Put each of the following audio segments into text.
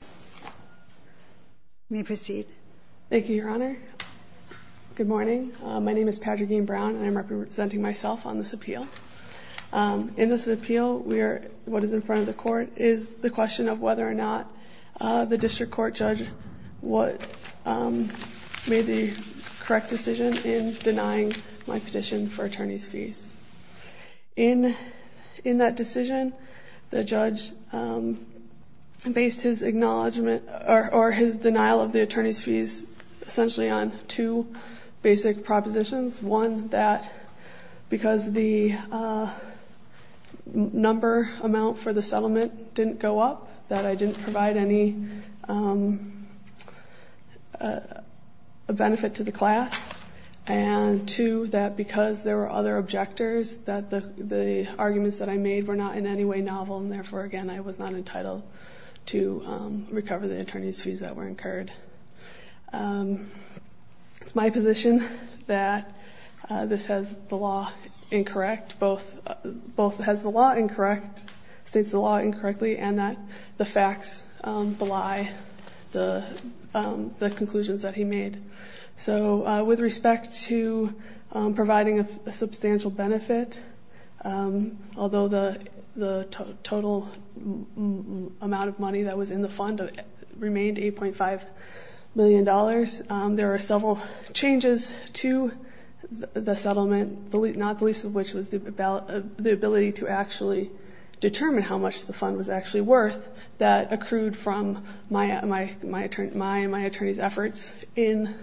You may proceed. Thank you, Your Honor. Good morning. My name is Padraigin Browne, and I'm representing myself on this appeal. In this appeal, what is in front of the court is the question of whether or not the district court judge made the correct decision in denying my petition for attorney's fees. In that decision, the judge based his denial of the attorney's fees essentially on two basic propositions. One, that because the number amount for the settlement didn't go up, that I didn't provide any benefit to the class. And two, that because there were other objectors, that the arguments that I made were not in any way novel, and therefore, again, I was not entitled to recover the attorney's fees that were incurred. It's my position that this has the law incorrect, both has the law incorrect, states the law incorrectly, and that the facts belie the conclusions that he made. So with respect to providing a substantial benefit, although the total amount of money that was in the fund remained $8.5 million, there are several changes to the settlement, not the least of which was the ability to actually determine how much the fund was actually worth that accrued from my attorney's efforts in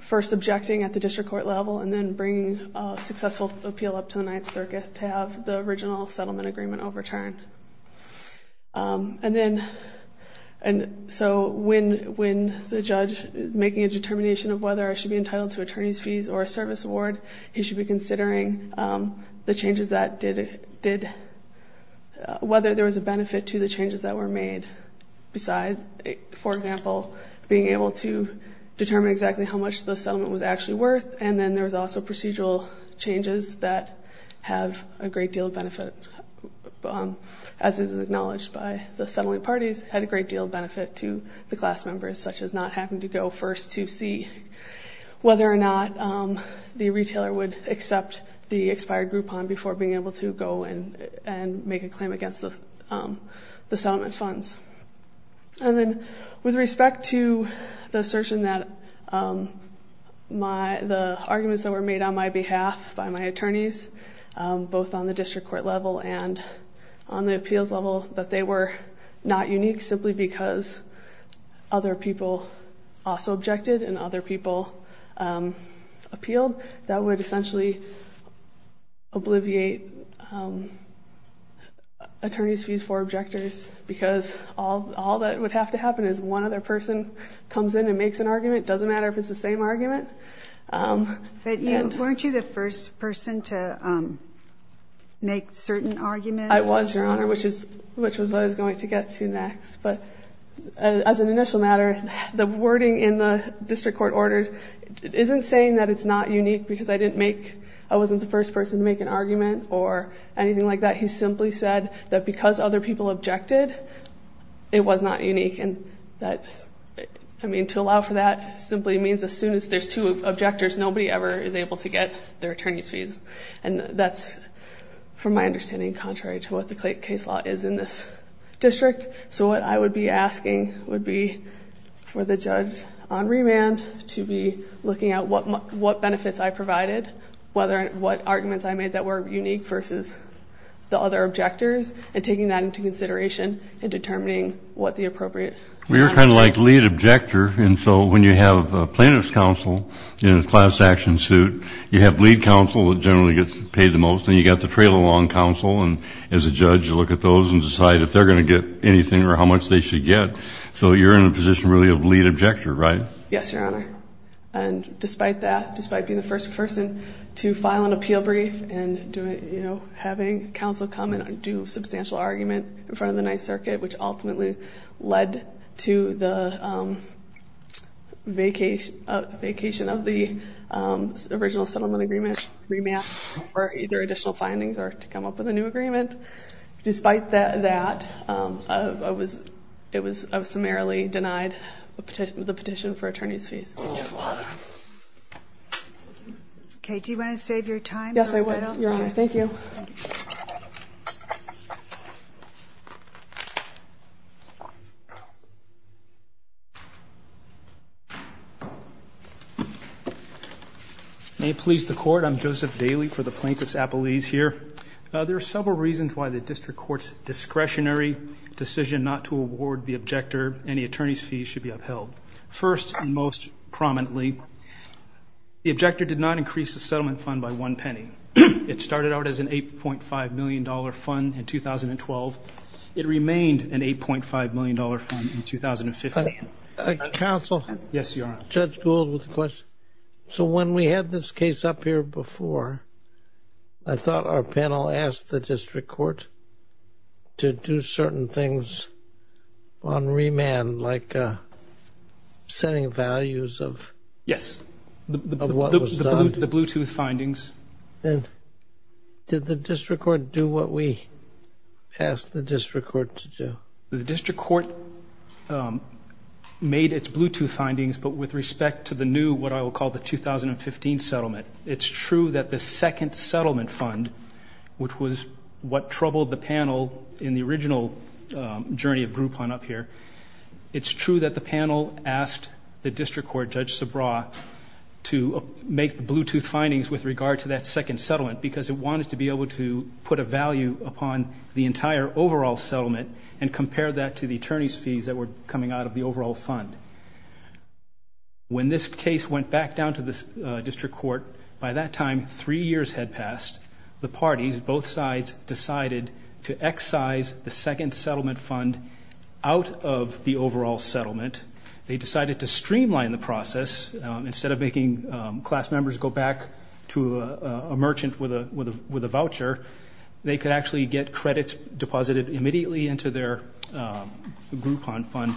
first objecting at the district court level and then bringing a successful appeal up to the Ninth Circuit to have the original settlement agreement overturned. And so when the judge is making a determination of whether I should be entitled to attorney's fees or a service award, he should be considering whether there was a benefit to the changes that were made besides, for example, being able to determine exactly how much the settlement was actually worth, and then there was also procedural changes that have a great deal of benefit, as is acknowledged by the settling parties, had a great deal of benefit to the class members, such as not having to go first to see whether or not the retailer would accept the expired Groupon before being able to go and make a claim against the settlement funds. And then with respect to the assertion that the arguments that were made on my behalf by my attorneys, both on the district court level and on the appeals level, that they were not unique simply because other people also objected and other people appealed, that would essentially obliviate attorney's fees for objectors because all that would have to happen is one other person comes in and makes an argument. It doesn't matter if it's the same argument. But weren't you the first person to make certain arguments? I was, Your Honor, which is what I was going to get to next. But as an initial matter, the wording in the district court order isn't saying that it's not unique because I wasn't the first person to make an argument or anything like that. He simply said that because other people objected, it was not unique. I mean, to allow for that simply means as soon as there's two objectors, nobody ever is able to get their attorney's fees. And that's, from my understanding, contrary to what the case law is in this district. So what I would be asking would be for the judge on remand to be looking at what benefits I provided, what arguments I made that were unique versus the other objectors, and taking that into consideration and determining what the appropriate remand would be. Well, you're kind of like lead objector. And so when you have a plaintiff's counsel in a class action suit, you have lead counsel that generally gets paid the most, and you've got the trail along counsel. And as a judge, you look at those and decide if they're going to get anything or how much they should get. So you're in a position really of lead objector, right? Yes, Your Honor. And despite that, despite being the first person to file an appeal brief and having counsel come and do a substantial argument in front of the Ninth Circuit, which ultimately led to the vacation of the original settlement agreement, remand, or either additional findings or to come up with a new agreement. Despite that, I was summarily denied the petition for attorney's fees. Okay, do you want to save your time? Yes, I would, Your Honor. Thank you. May it please the Court. I'm Joseph Daly for the Plaintiff's Appellees here. There are several reasons why the district court's discretionary decision not to award the objector any attorney's fees should be upheld. First and most prominently, the objector did not increase the settlement fund by one penny. It started out as an $8.5 million fund in 2012. It remained an $8.5 million fund in 2015. Counsel? Yes, Your Honor. Judge Gould with a question. So when we had this case up here before, I thought our panel asked the district court to do certain things on remand, like setting values of what was done. Yes, the Bluetooth findings. And did the district court do what we asked the district court to do? The district court made its Bluetooth findings, but with respect to the new, what I will call the 2015 settlement, it's true that the second settlement fund, which was what troubled the panel in the original journey of Groupon up here, it's true that the panel asked the district court, Judge Subraw, to make the Bluetooth findings with regard to that second settlement because it wanted to be able to put a value upon the entire overall settlement and compare that to the attorney's fees that were coming out of the overall fund. When this case went back down to the district court, by that time three years had passed, the parties, both sides, decided to excise the second settlement fund out of the overall settlement. They decided to streamline the process. Instead of making class members go back to a merchant with a voucher, they could actually get credits deposited immediately into their Groupon fund.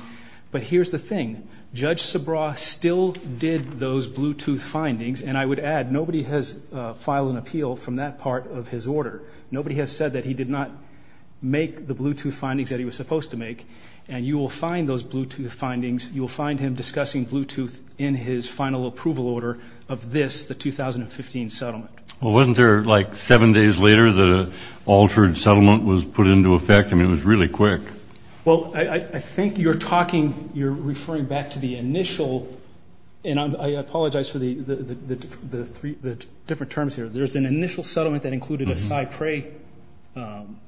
But here's the thing. Judge Subraw still did those Bluetooth findings, and I would add, nobody has filed an appeal from that part of his order. Nobody has said that he did not make the Bluetooth findings that he was supposed to make, and you will find those Bluetooth findings. You will find him discussing Bluetooth in his final approval order of this, the 2015 settlement. Well, wasn't there like seven days later that an altered settlement was put into effect? I mean, it was really quick. Well, I think you're talking, you're referring back to the initial, and I apologize for the different terms here. There's an initial settlement that included a Cypre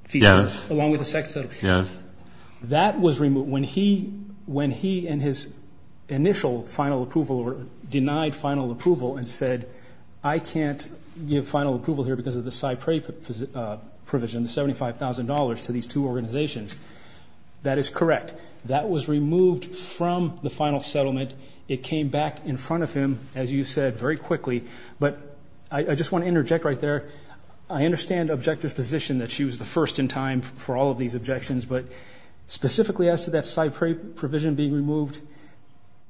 feature along with the second settlement. Yes. That was removed. When he and his initial final approval denied final approval and said, I can't give final approval here because of the Cypre provision, the $75,000 to these two organizations, that is correct. That was removed from the final settlement. It came back in front of him, as you said, very quickly. But I just want to interject right there. I understand the objector's position that she was the first in time for all of these objections, but specifically as to that Cypre provision being removed,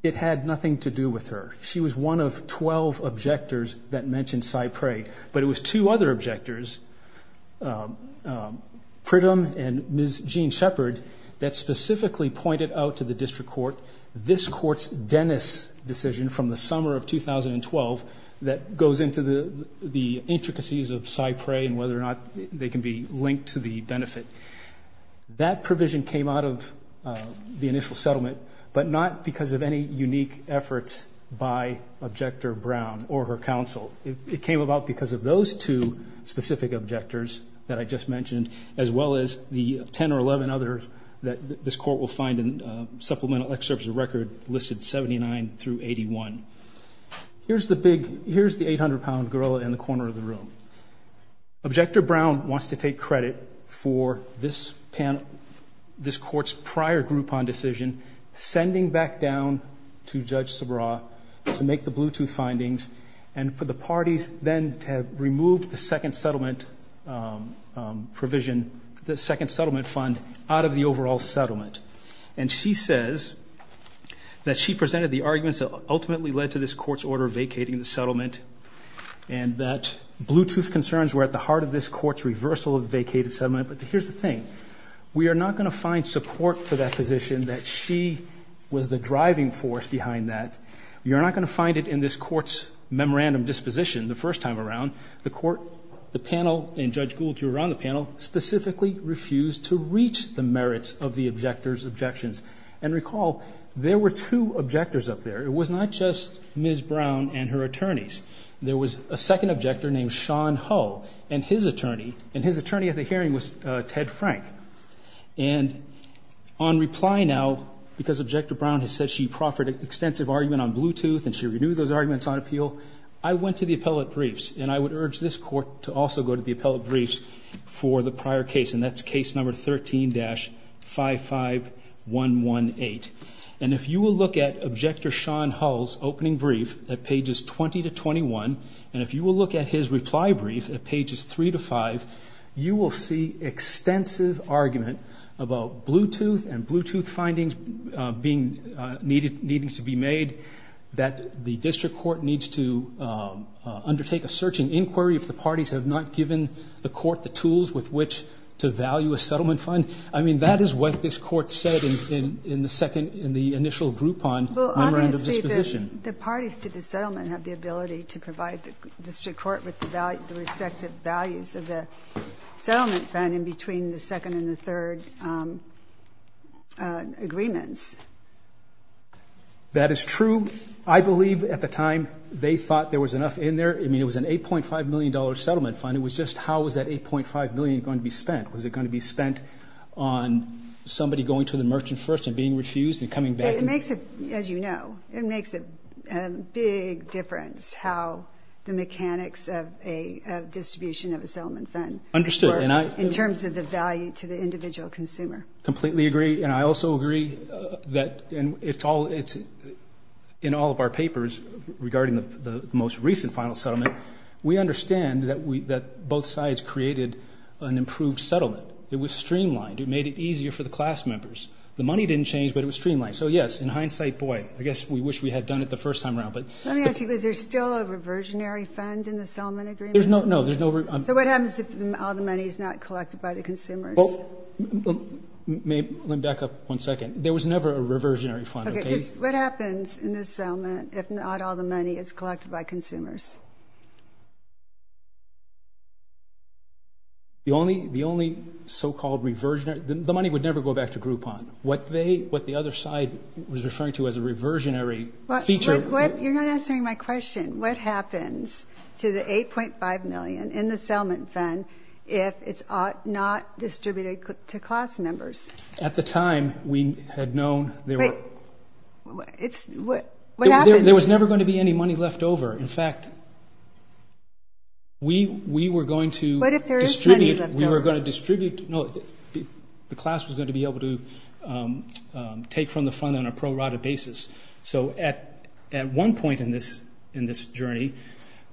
it had nothing to do with her. She was one of 12 objectors that mentioned Cypre. But it was two other objectors, Pritam and Ms. Jean Shepard, that specifically pointed out to the district court, this court's Dennis decision from the summer of 2012 that goes into the intricacies of Cypre and whether or not they can be linked to the benefit. That provision came out of the initial settlement, but not because of any unique efforts by Objector Brown or her counsel. It came about because of those two specific objectors that I just mentioned, as well as the 10 or 11 others that this court will find in supplemental excerpts of record listed 79 through 81. Here's the 800-pound gorilla in the corner of the room. Objector Brown wants to take credit for this panel, this court's prior Groupon decision, sending back down to Judge Sabra to make the Bluetooth findings, and for the parties then to remove the second settlement provision, the second settlement fund, out of the overall settlement. And she says that she presented the arguments that ultimately led to this court's order vacating the settlement, and that Bluetooth concerns were at the heart of this court's reversal of the vacated settlement. But here's the thing. We are not going to find support for that position, that she was the driving force behind that. We are not going to find it in this court's memorandum disposition the first time around. The court, the panel, and Judge Gould, too, around the panel, specifically refused to reach the merits of the objectors' objections. And recall, there were two objectors up there. It was not just Ms. Brown and her attorneys. There was a second objector named Sean Hull, and his attorney, and his attorney at the hearing was Ted Frank. And on reply now, because Objector Brown has said she proffered an extensive argument on Bluetooth and she renewed those arguments on appeal, I went to the appellate briefs, and I would urge this court to also go to the appellate briefs for the prior case, and that's case number 13-55118. And if you will look at Objector Sean Hull's opening brief at pages 20 to 21, and if you will look at his reply brief at pages 3 to 5, you will see extensive argument about Bluetooth and Bluetooth findings being needed to be made, that the district court needs to undertake a search and inquiry if the parties have not given the court the tools with which to value a settlement fund. I mean, that is what this court said in the initial group on memorandum disposition. The parties to the settlement have the ability to provide the district court with the respective values of the settlement fund in between the second and the third agreements. That is true. I believe at the time they thought there was enough in there. I mean, it was an $8.5 million settlement fund. It was just how was that $8.5 million going to be spent? Was it going to be spent on somebody going to the merchant first and being refused and coming back? As you know, it makes a big difference how the mechanics of a distribution of a settlement fund in terms of the value to the individual consumer. Completely agree. And I also agree that in all of our papers regarding the most recent final settlement, we understand that both sides created an improved settlement. It was streamlined. It made it easier for the class members. The money didn't change, but it was streamlined. So, yes, in hindsight, boy, I guess we wish we had done it the first time around. Let me ask you, is there still a reversionary fund in the settlement agreement? No. So what happens if all the money is not collected by the consumers? Let me back up one second. There was never a reversionary fund. What happens in this settlement if not all the money is collected by consumers? The only so-called reversionary, the money would never go back to Groupon. What they, what the other side was referring to as a reversionary feature. You're not answering my question. What happens to the $8.5 million in the settlement fund if it's not distributed to class members? At the time, we had known there were. Wait. What happens? There was never going to be any money left over. In fact, we were going to distribute. What if there is money left over? We were going to distribute. The class was going to be able to take from the fund on a pro-rata basis. So at one point in this journey,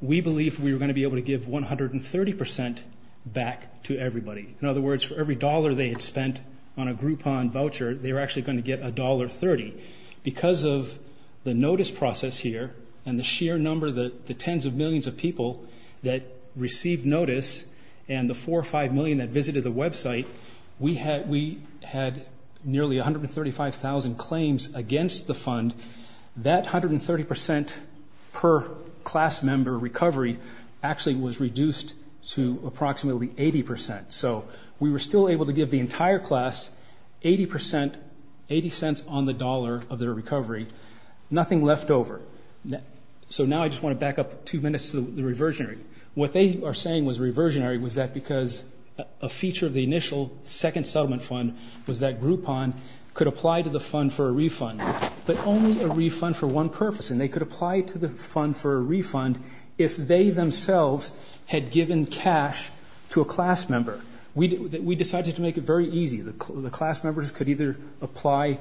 we believed we were going to be able to give 130% back to everybody. In other words, for every dollar they had spent on a Groupon voucher, they were actually going to get $1.30. Because of the notice process here and the sheer number, the tens of millions of people that received notice and the four or five million that visited the website, we had nearly 135,000 claims against the fund. That 130% per class member recovery actually was reduced to approximately 80%. So we were still able to give the entire class 80%, 80 cents on the dollar of their recovery. Nothing left over. So now I just want to back up two minutes to the reversionary. What they are saying was reversionary was that because a feature of the initial second settlement fund was that Groupon could apply to the fund for a refund, but only a refund for one purpose, and they could apply to the fund for a refund if they themselves had given cash to a class member. We decided to make it very easy. The class members could either apply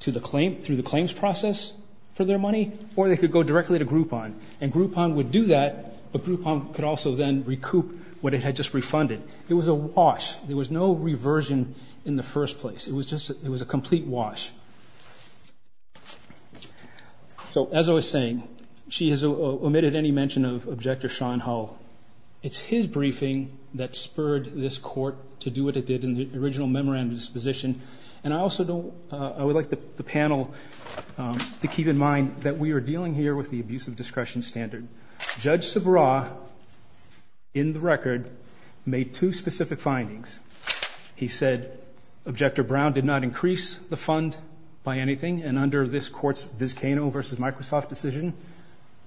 to the claim through the claims process for their money, or they could go directly to Groupon. And Groupon would do that, but Groupon could also then recoup what it had just refunded. It was a wash. There was no reversion in the first place. It was just a complete wash. So as I was saying, she has omitted any mention of Objector Sean Hull. It's his briefing that spurred this court to do what it did in the original memorandum disposition. And I also would like the panel to keep in mind that we are dealing here with the abusive discretion standard. Judge Subraw, in the record, made two specific findings. He said Objector Brown did not increase the fund by anything, and under this court's Vizcano v. Microsoft decision,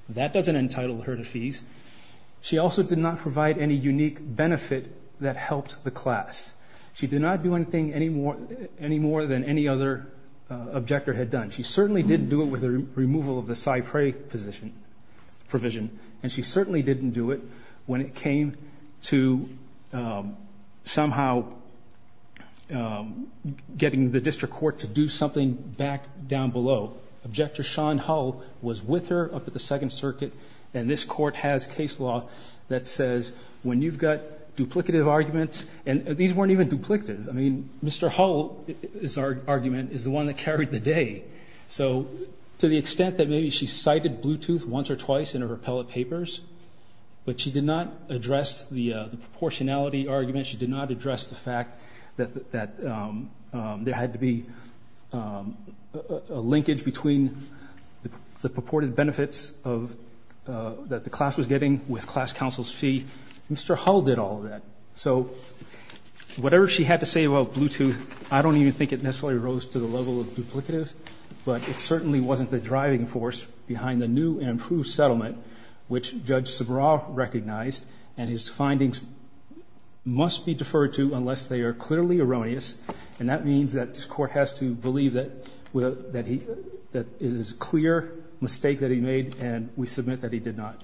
that doesn't entitle her to fees. She also did not provide any unique benefit that helped the class. She did not do anything any more than any other Objector had done. She certainly didn't do it with the removal of the Cypre provision, and she certainly didn't do it when it came to somehow getting the district court to do something back down below. Objector Sean Hull was with her up at the Second Circuit, and this court has case law that says when you've got duplicative arguments, and these weren't even duplicative. I mean, Mr. Hull's argument is the one that carried the day. So to the extent that maybe she cited Bluetooth once or twice in her repellent papers, but she did not address the proportionality argument. She did not address the fact that there had to be a linkage between the purported benefits that the class was getting with class counsel's fee. Mr. Hull did all of that. So whatever she had to say about Bluetooth, I don't even think it necessarily rose to the level of duplicative, but it certainly wasn't the driving force behind the new and improved settlement, which Judge Subraw recognized, and his findings must be deferred to unless they are clearly erroneous, and that means that this court has to believe that it is a clear mistake that he made, and we submit that he did not.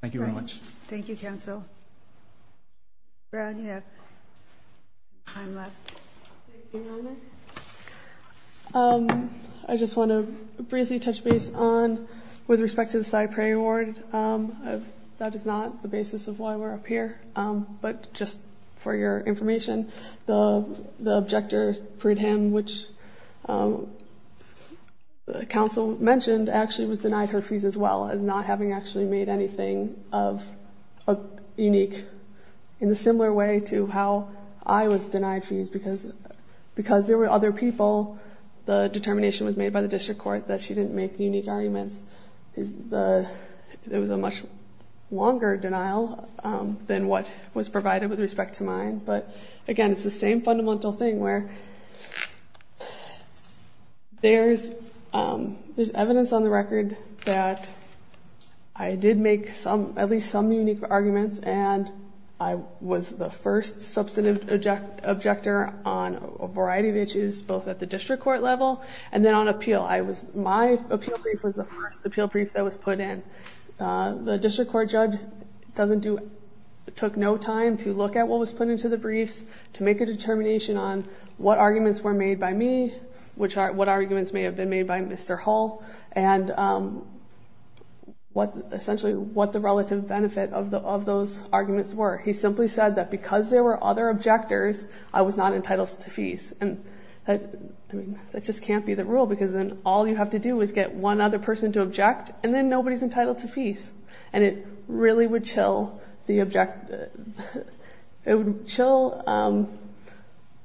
Thank you very much. Thank you, counsel. Brown, you have time left. Thank you, Your Honor. I just want to briefly touch base on with respect to the CyPrey award. That is not the basis of why we're up here, but just for your information, the objector, Prudham, which counsel mentioned, actually was denied her fees as well as not having actually made anything unique, in a similar way to how I was denied fees because there were other people. The determination was made by the district court that she didn't make unique arguments. There was a much longer denial than what was provided with respect to mine, but, again, it's the same fundamental thing where there's evidence on the record that I did make at least some unique arguments and I was the first substantive objector on a variety of issues, both at the district court level and then on appeal. My appeal brief was the first appeal brief that was put in. The district court judge took no time to look at what was put into the briefs, to make a determination on what arguments were made by me, what arguments may have been made by Mr. Hull, and essentially what the relative benefit of those arguments were. He simply said that because there were other objectors, I was not entitled to fees. I mean, that just can't be the rule because then all you have to do is get one other person to object and then nobody's entitled to fees and it really would chill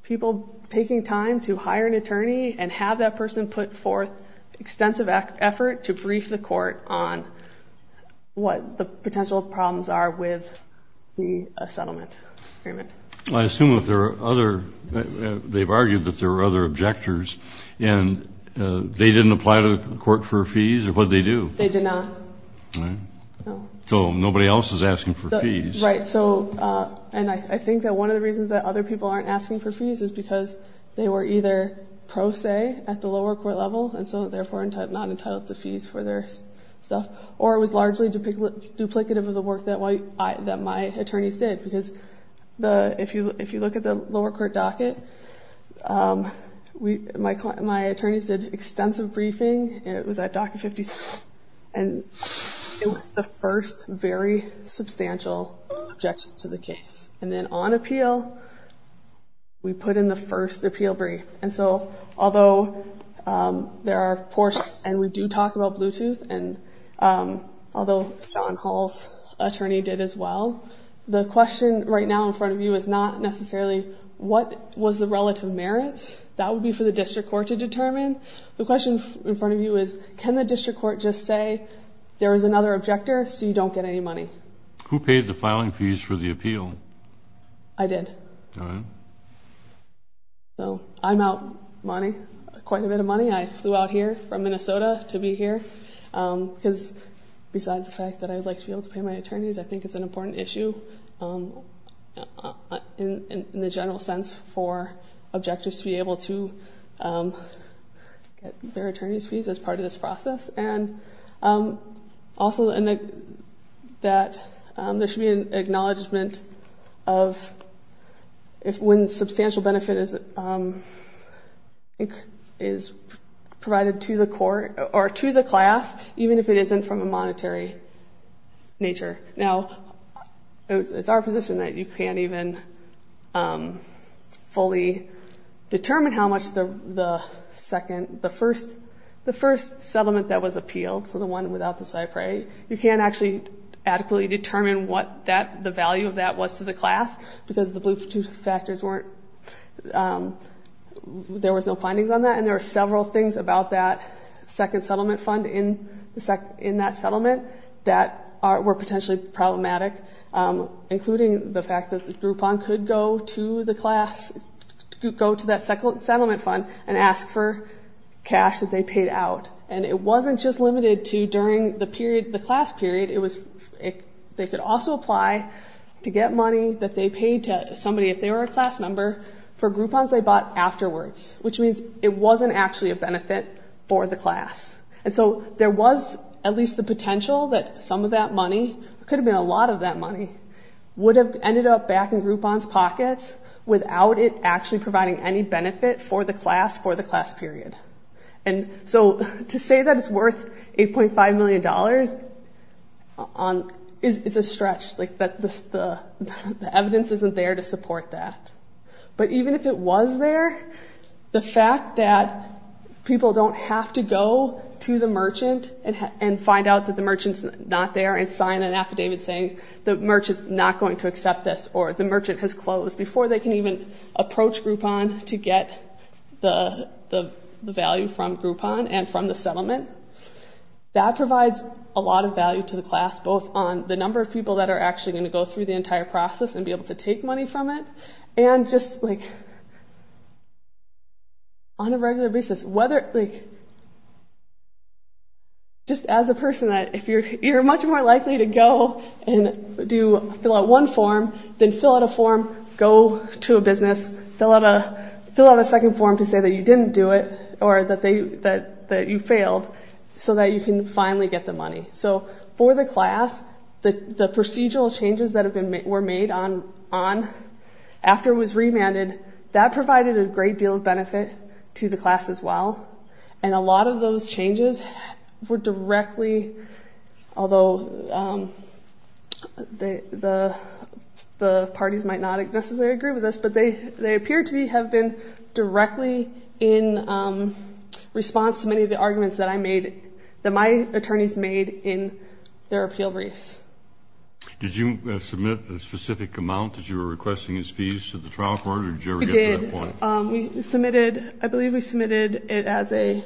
people taking time to hire an attorney and have that person put forth extensive effort to brief the court on what the potential problems are with the settlement agreement. Well, I assume that there are other, they've argued that there were other objectors and they didn't apply to the court for fees or what did they do? They did not. Right. No. So nobody else is asking for fees. Right. So, and I think that one of the reasons that other people aren't asking for fees is because they were either pro se at the lower court level and so therefore not entitled to fees for their stuff or it was largely duplicative of the work that my attorneys did. Because if you look at the lower court docket, my attorneys did extensive briefing and it was at docket 56 and it was the first very substantial objection to the case. And then on appeal, we put in the first appeal brief. And so although there are, and we do talk about Bluetooth and although Sean Hall's attorney did as well, the question right now in front of you is not necessarily what was the relative merits. That would be for the district court to determine. The question in front of you is can the district court just say there is another objector so you don't get any money? Who paid the filing fees for the appeal? I did. All right. So I'm out money, quite a bit of money. I flew out here from Minnesota to be here because besides the fact that I would like to be able to pay my attorneys, I think it's an important issue in the general sense for objectors to be able to get their attorney's fees as part of this process. And also that there should be an acknowledgment of when substantial benefit is provided to the court or to the class, even if it isn't from a monetary nature. Now, it's our position that you can't even fully determine how much the first settlement that was appealed, so the one without the cypre, you can't actually adequately determine what the value of that was to the class because the Bluetooth factors weren't, there was no findings on that. And there are several things about that second settlement fund in that settlement that were potentially problematic, including the fact that the Groupon could go to the class, go to that second settlement fund and ask for cash that they paid out. And it wasn't just limited to during the period, the class period, it was, they could also apply to get money that they paid to somebody if they were a class member for Groupons they bought afterwards, which means it wasn't actually a benefit for the class. And so there was at least the potential that some of that money, it could have been a lot of that money, would have ended up back in Groupon's pocket without it actually providing any benefit for the class for the class period. And so to say that it's worth $8.5 million is a stretch, like the evidence isn't there to support that. But even if it was there, the fact that people don't have to go to the merchant and find out that the merchant's not there and sign an affidavit saying the merchant's not going to accept this or the merchant has closed before they can even approach Groupon to get the value from Groupon and from the settlement, that provides a lot of value to the class both on the number of people that are actually going to go through the entire process and be able to take money from it and just like on a regular basis. Just as a person, you're much more likely to go and fill out one form, then fill out a form, go to a business, fill out a second form to say that you didn't do it or that you failed so that you can finally get the money. So for the class, the procedural changes that were made on after it was remanded, that provided a great deal of benefit to the class as well. And a lot of those changes were directly, although the parties might not necessarily agree with this, but they appear to have been directly in response to many of the arguments that I made, that my attorneys made in their appeal briefs. Did you submit a specific amount that you were requesting as fees to the trial court or did you ever get to that point? We did. We submitted, I believe we submitted it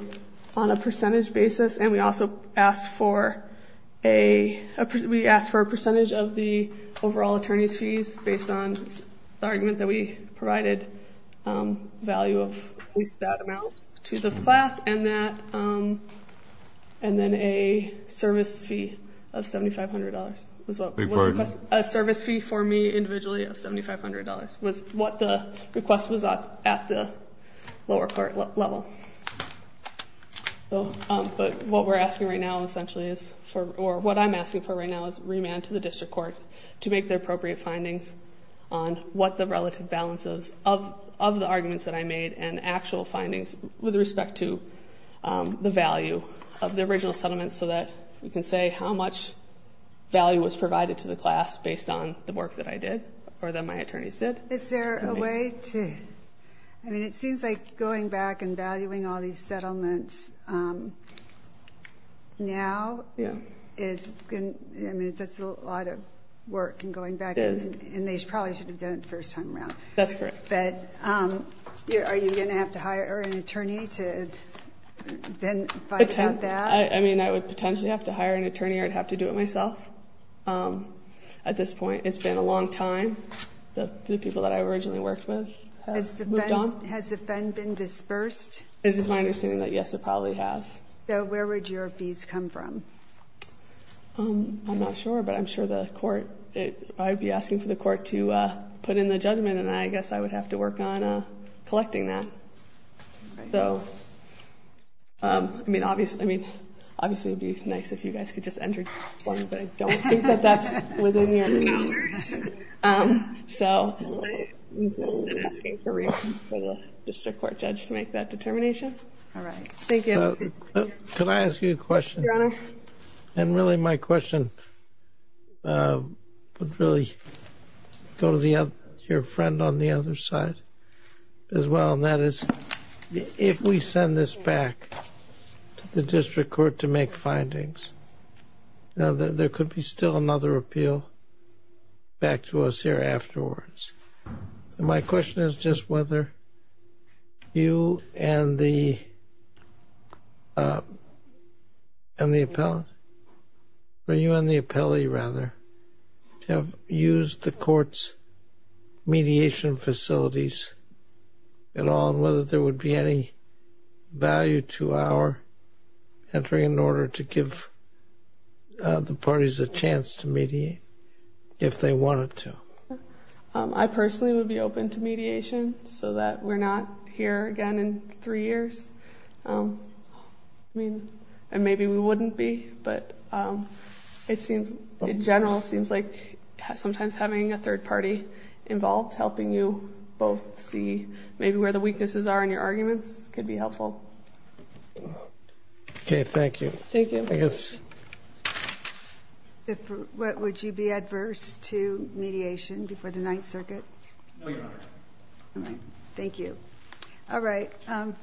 on a percentage basis, and we also asked for a percentage of the overall attorney's fees based on the argument that we provided value of at least that amount to the class and then a service fee of $7,500. A service fee for me individually of $7,500 was what the request was at the lower court level. But what we're asking right now essentially is, or what I'm asking for right now is remand to the district court to make the appropriate findings on what the relative balance is of the arguments that I made and actual findings with respect to the value of the original settlement so that we can say how much value was provided to the class based on the work that I did or that my attorneys did. Is there a way to, I mean it seems like going back and valuing all these settlements now is, I mean that's a lot of work in going back. It is. And they probably should have done it the first time around. That's correct. But are you going to have to hire an attorney to then find out that? I mean I would potentially have to hire an attorney or I'd have to do it myself at this point. It's been a long time. The people that I originally worked with have moved on. Has the fund been dispersed? It is my understanding that yes, it probably has. So where would your fees come from? I'm not sure, but I'm sure the court, I'd be asking for the court to put in the judgment and I guess I would have to work on collecting that. So I mean obviously it would be nice if you guys could just enter one, but I don't think that that's within the M&A. So I'm asking for the district court judge to make that determination. All right. Thank you. Your Honor. And really my question would really go to your friend on the other side as well, and that is if we send this back to the district court to make findings, there could be still another appeal back to us here afterwards. My question is just whether you and the appellate rather have used the court's mediation facilities at all and whether there would be any value to our entering an order to give the parties a chance to mediate if they wanted to. I personally would be open to mediation so that we're not here again in three years. I mean, and maybe we wouldn't be, but it seems in general it seems like sometimes having a third party involved, helping you both see maybe where the weaknesses are in your arguments could be helpful. Okay. Thank you. Thank you. Yes. Would you be adverse to mediation before the Ninth Circuit? No, Your Honor. All right. Thank you. All right.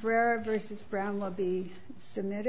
Ferreira v. Brown will be submitted.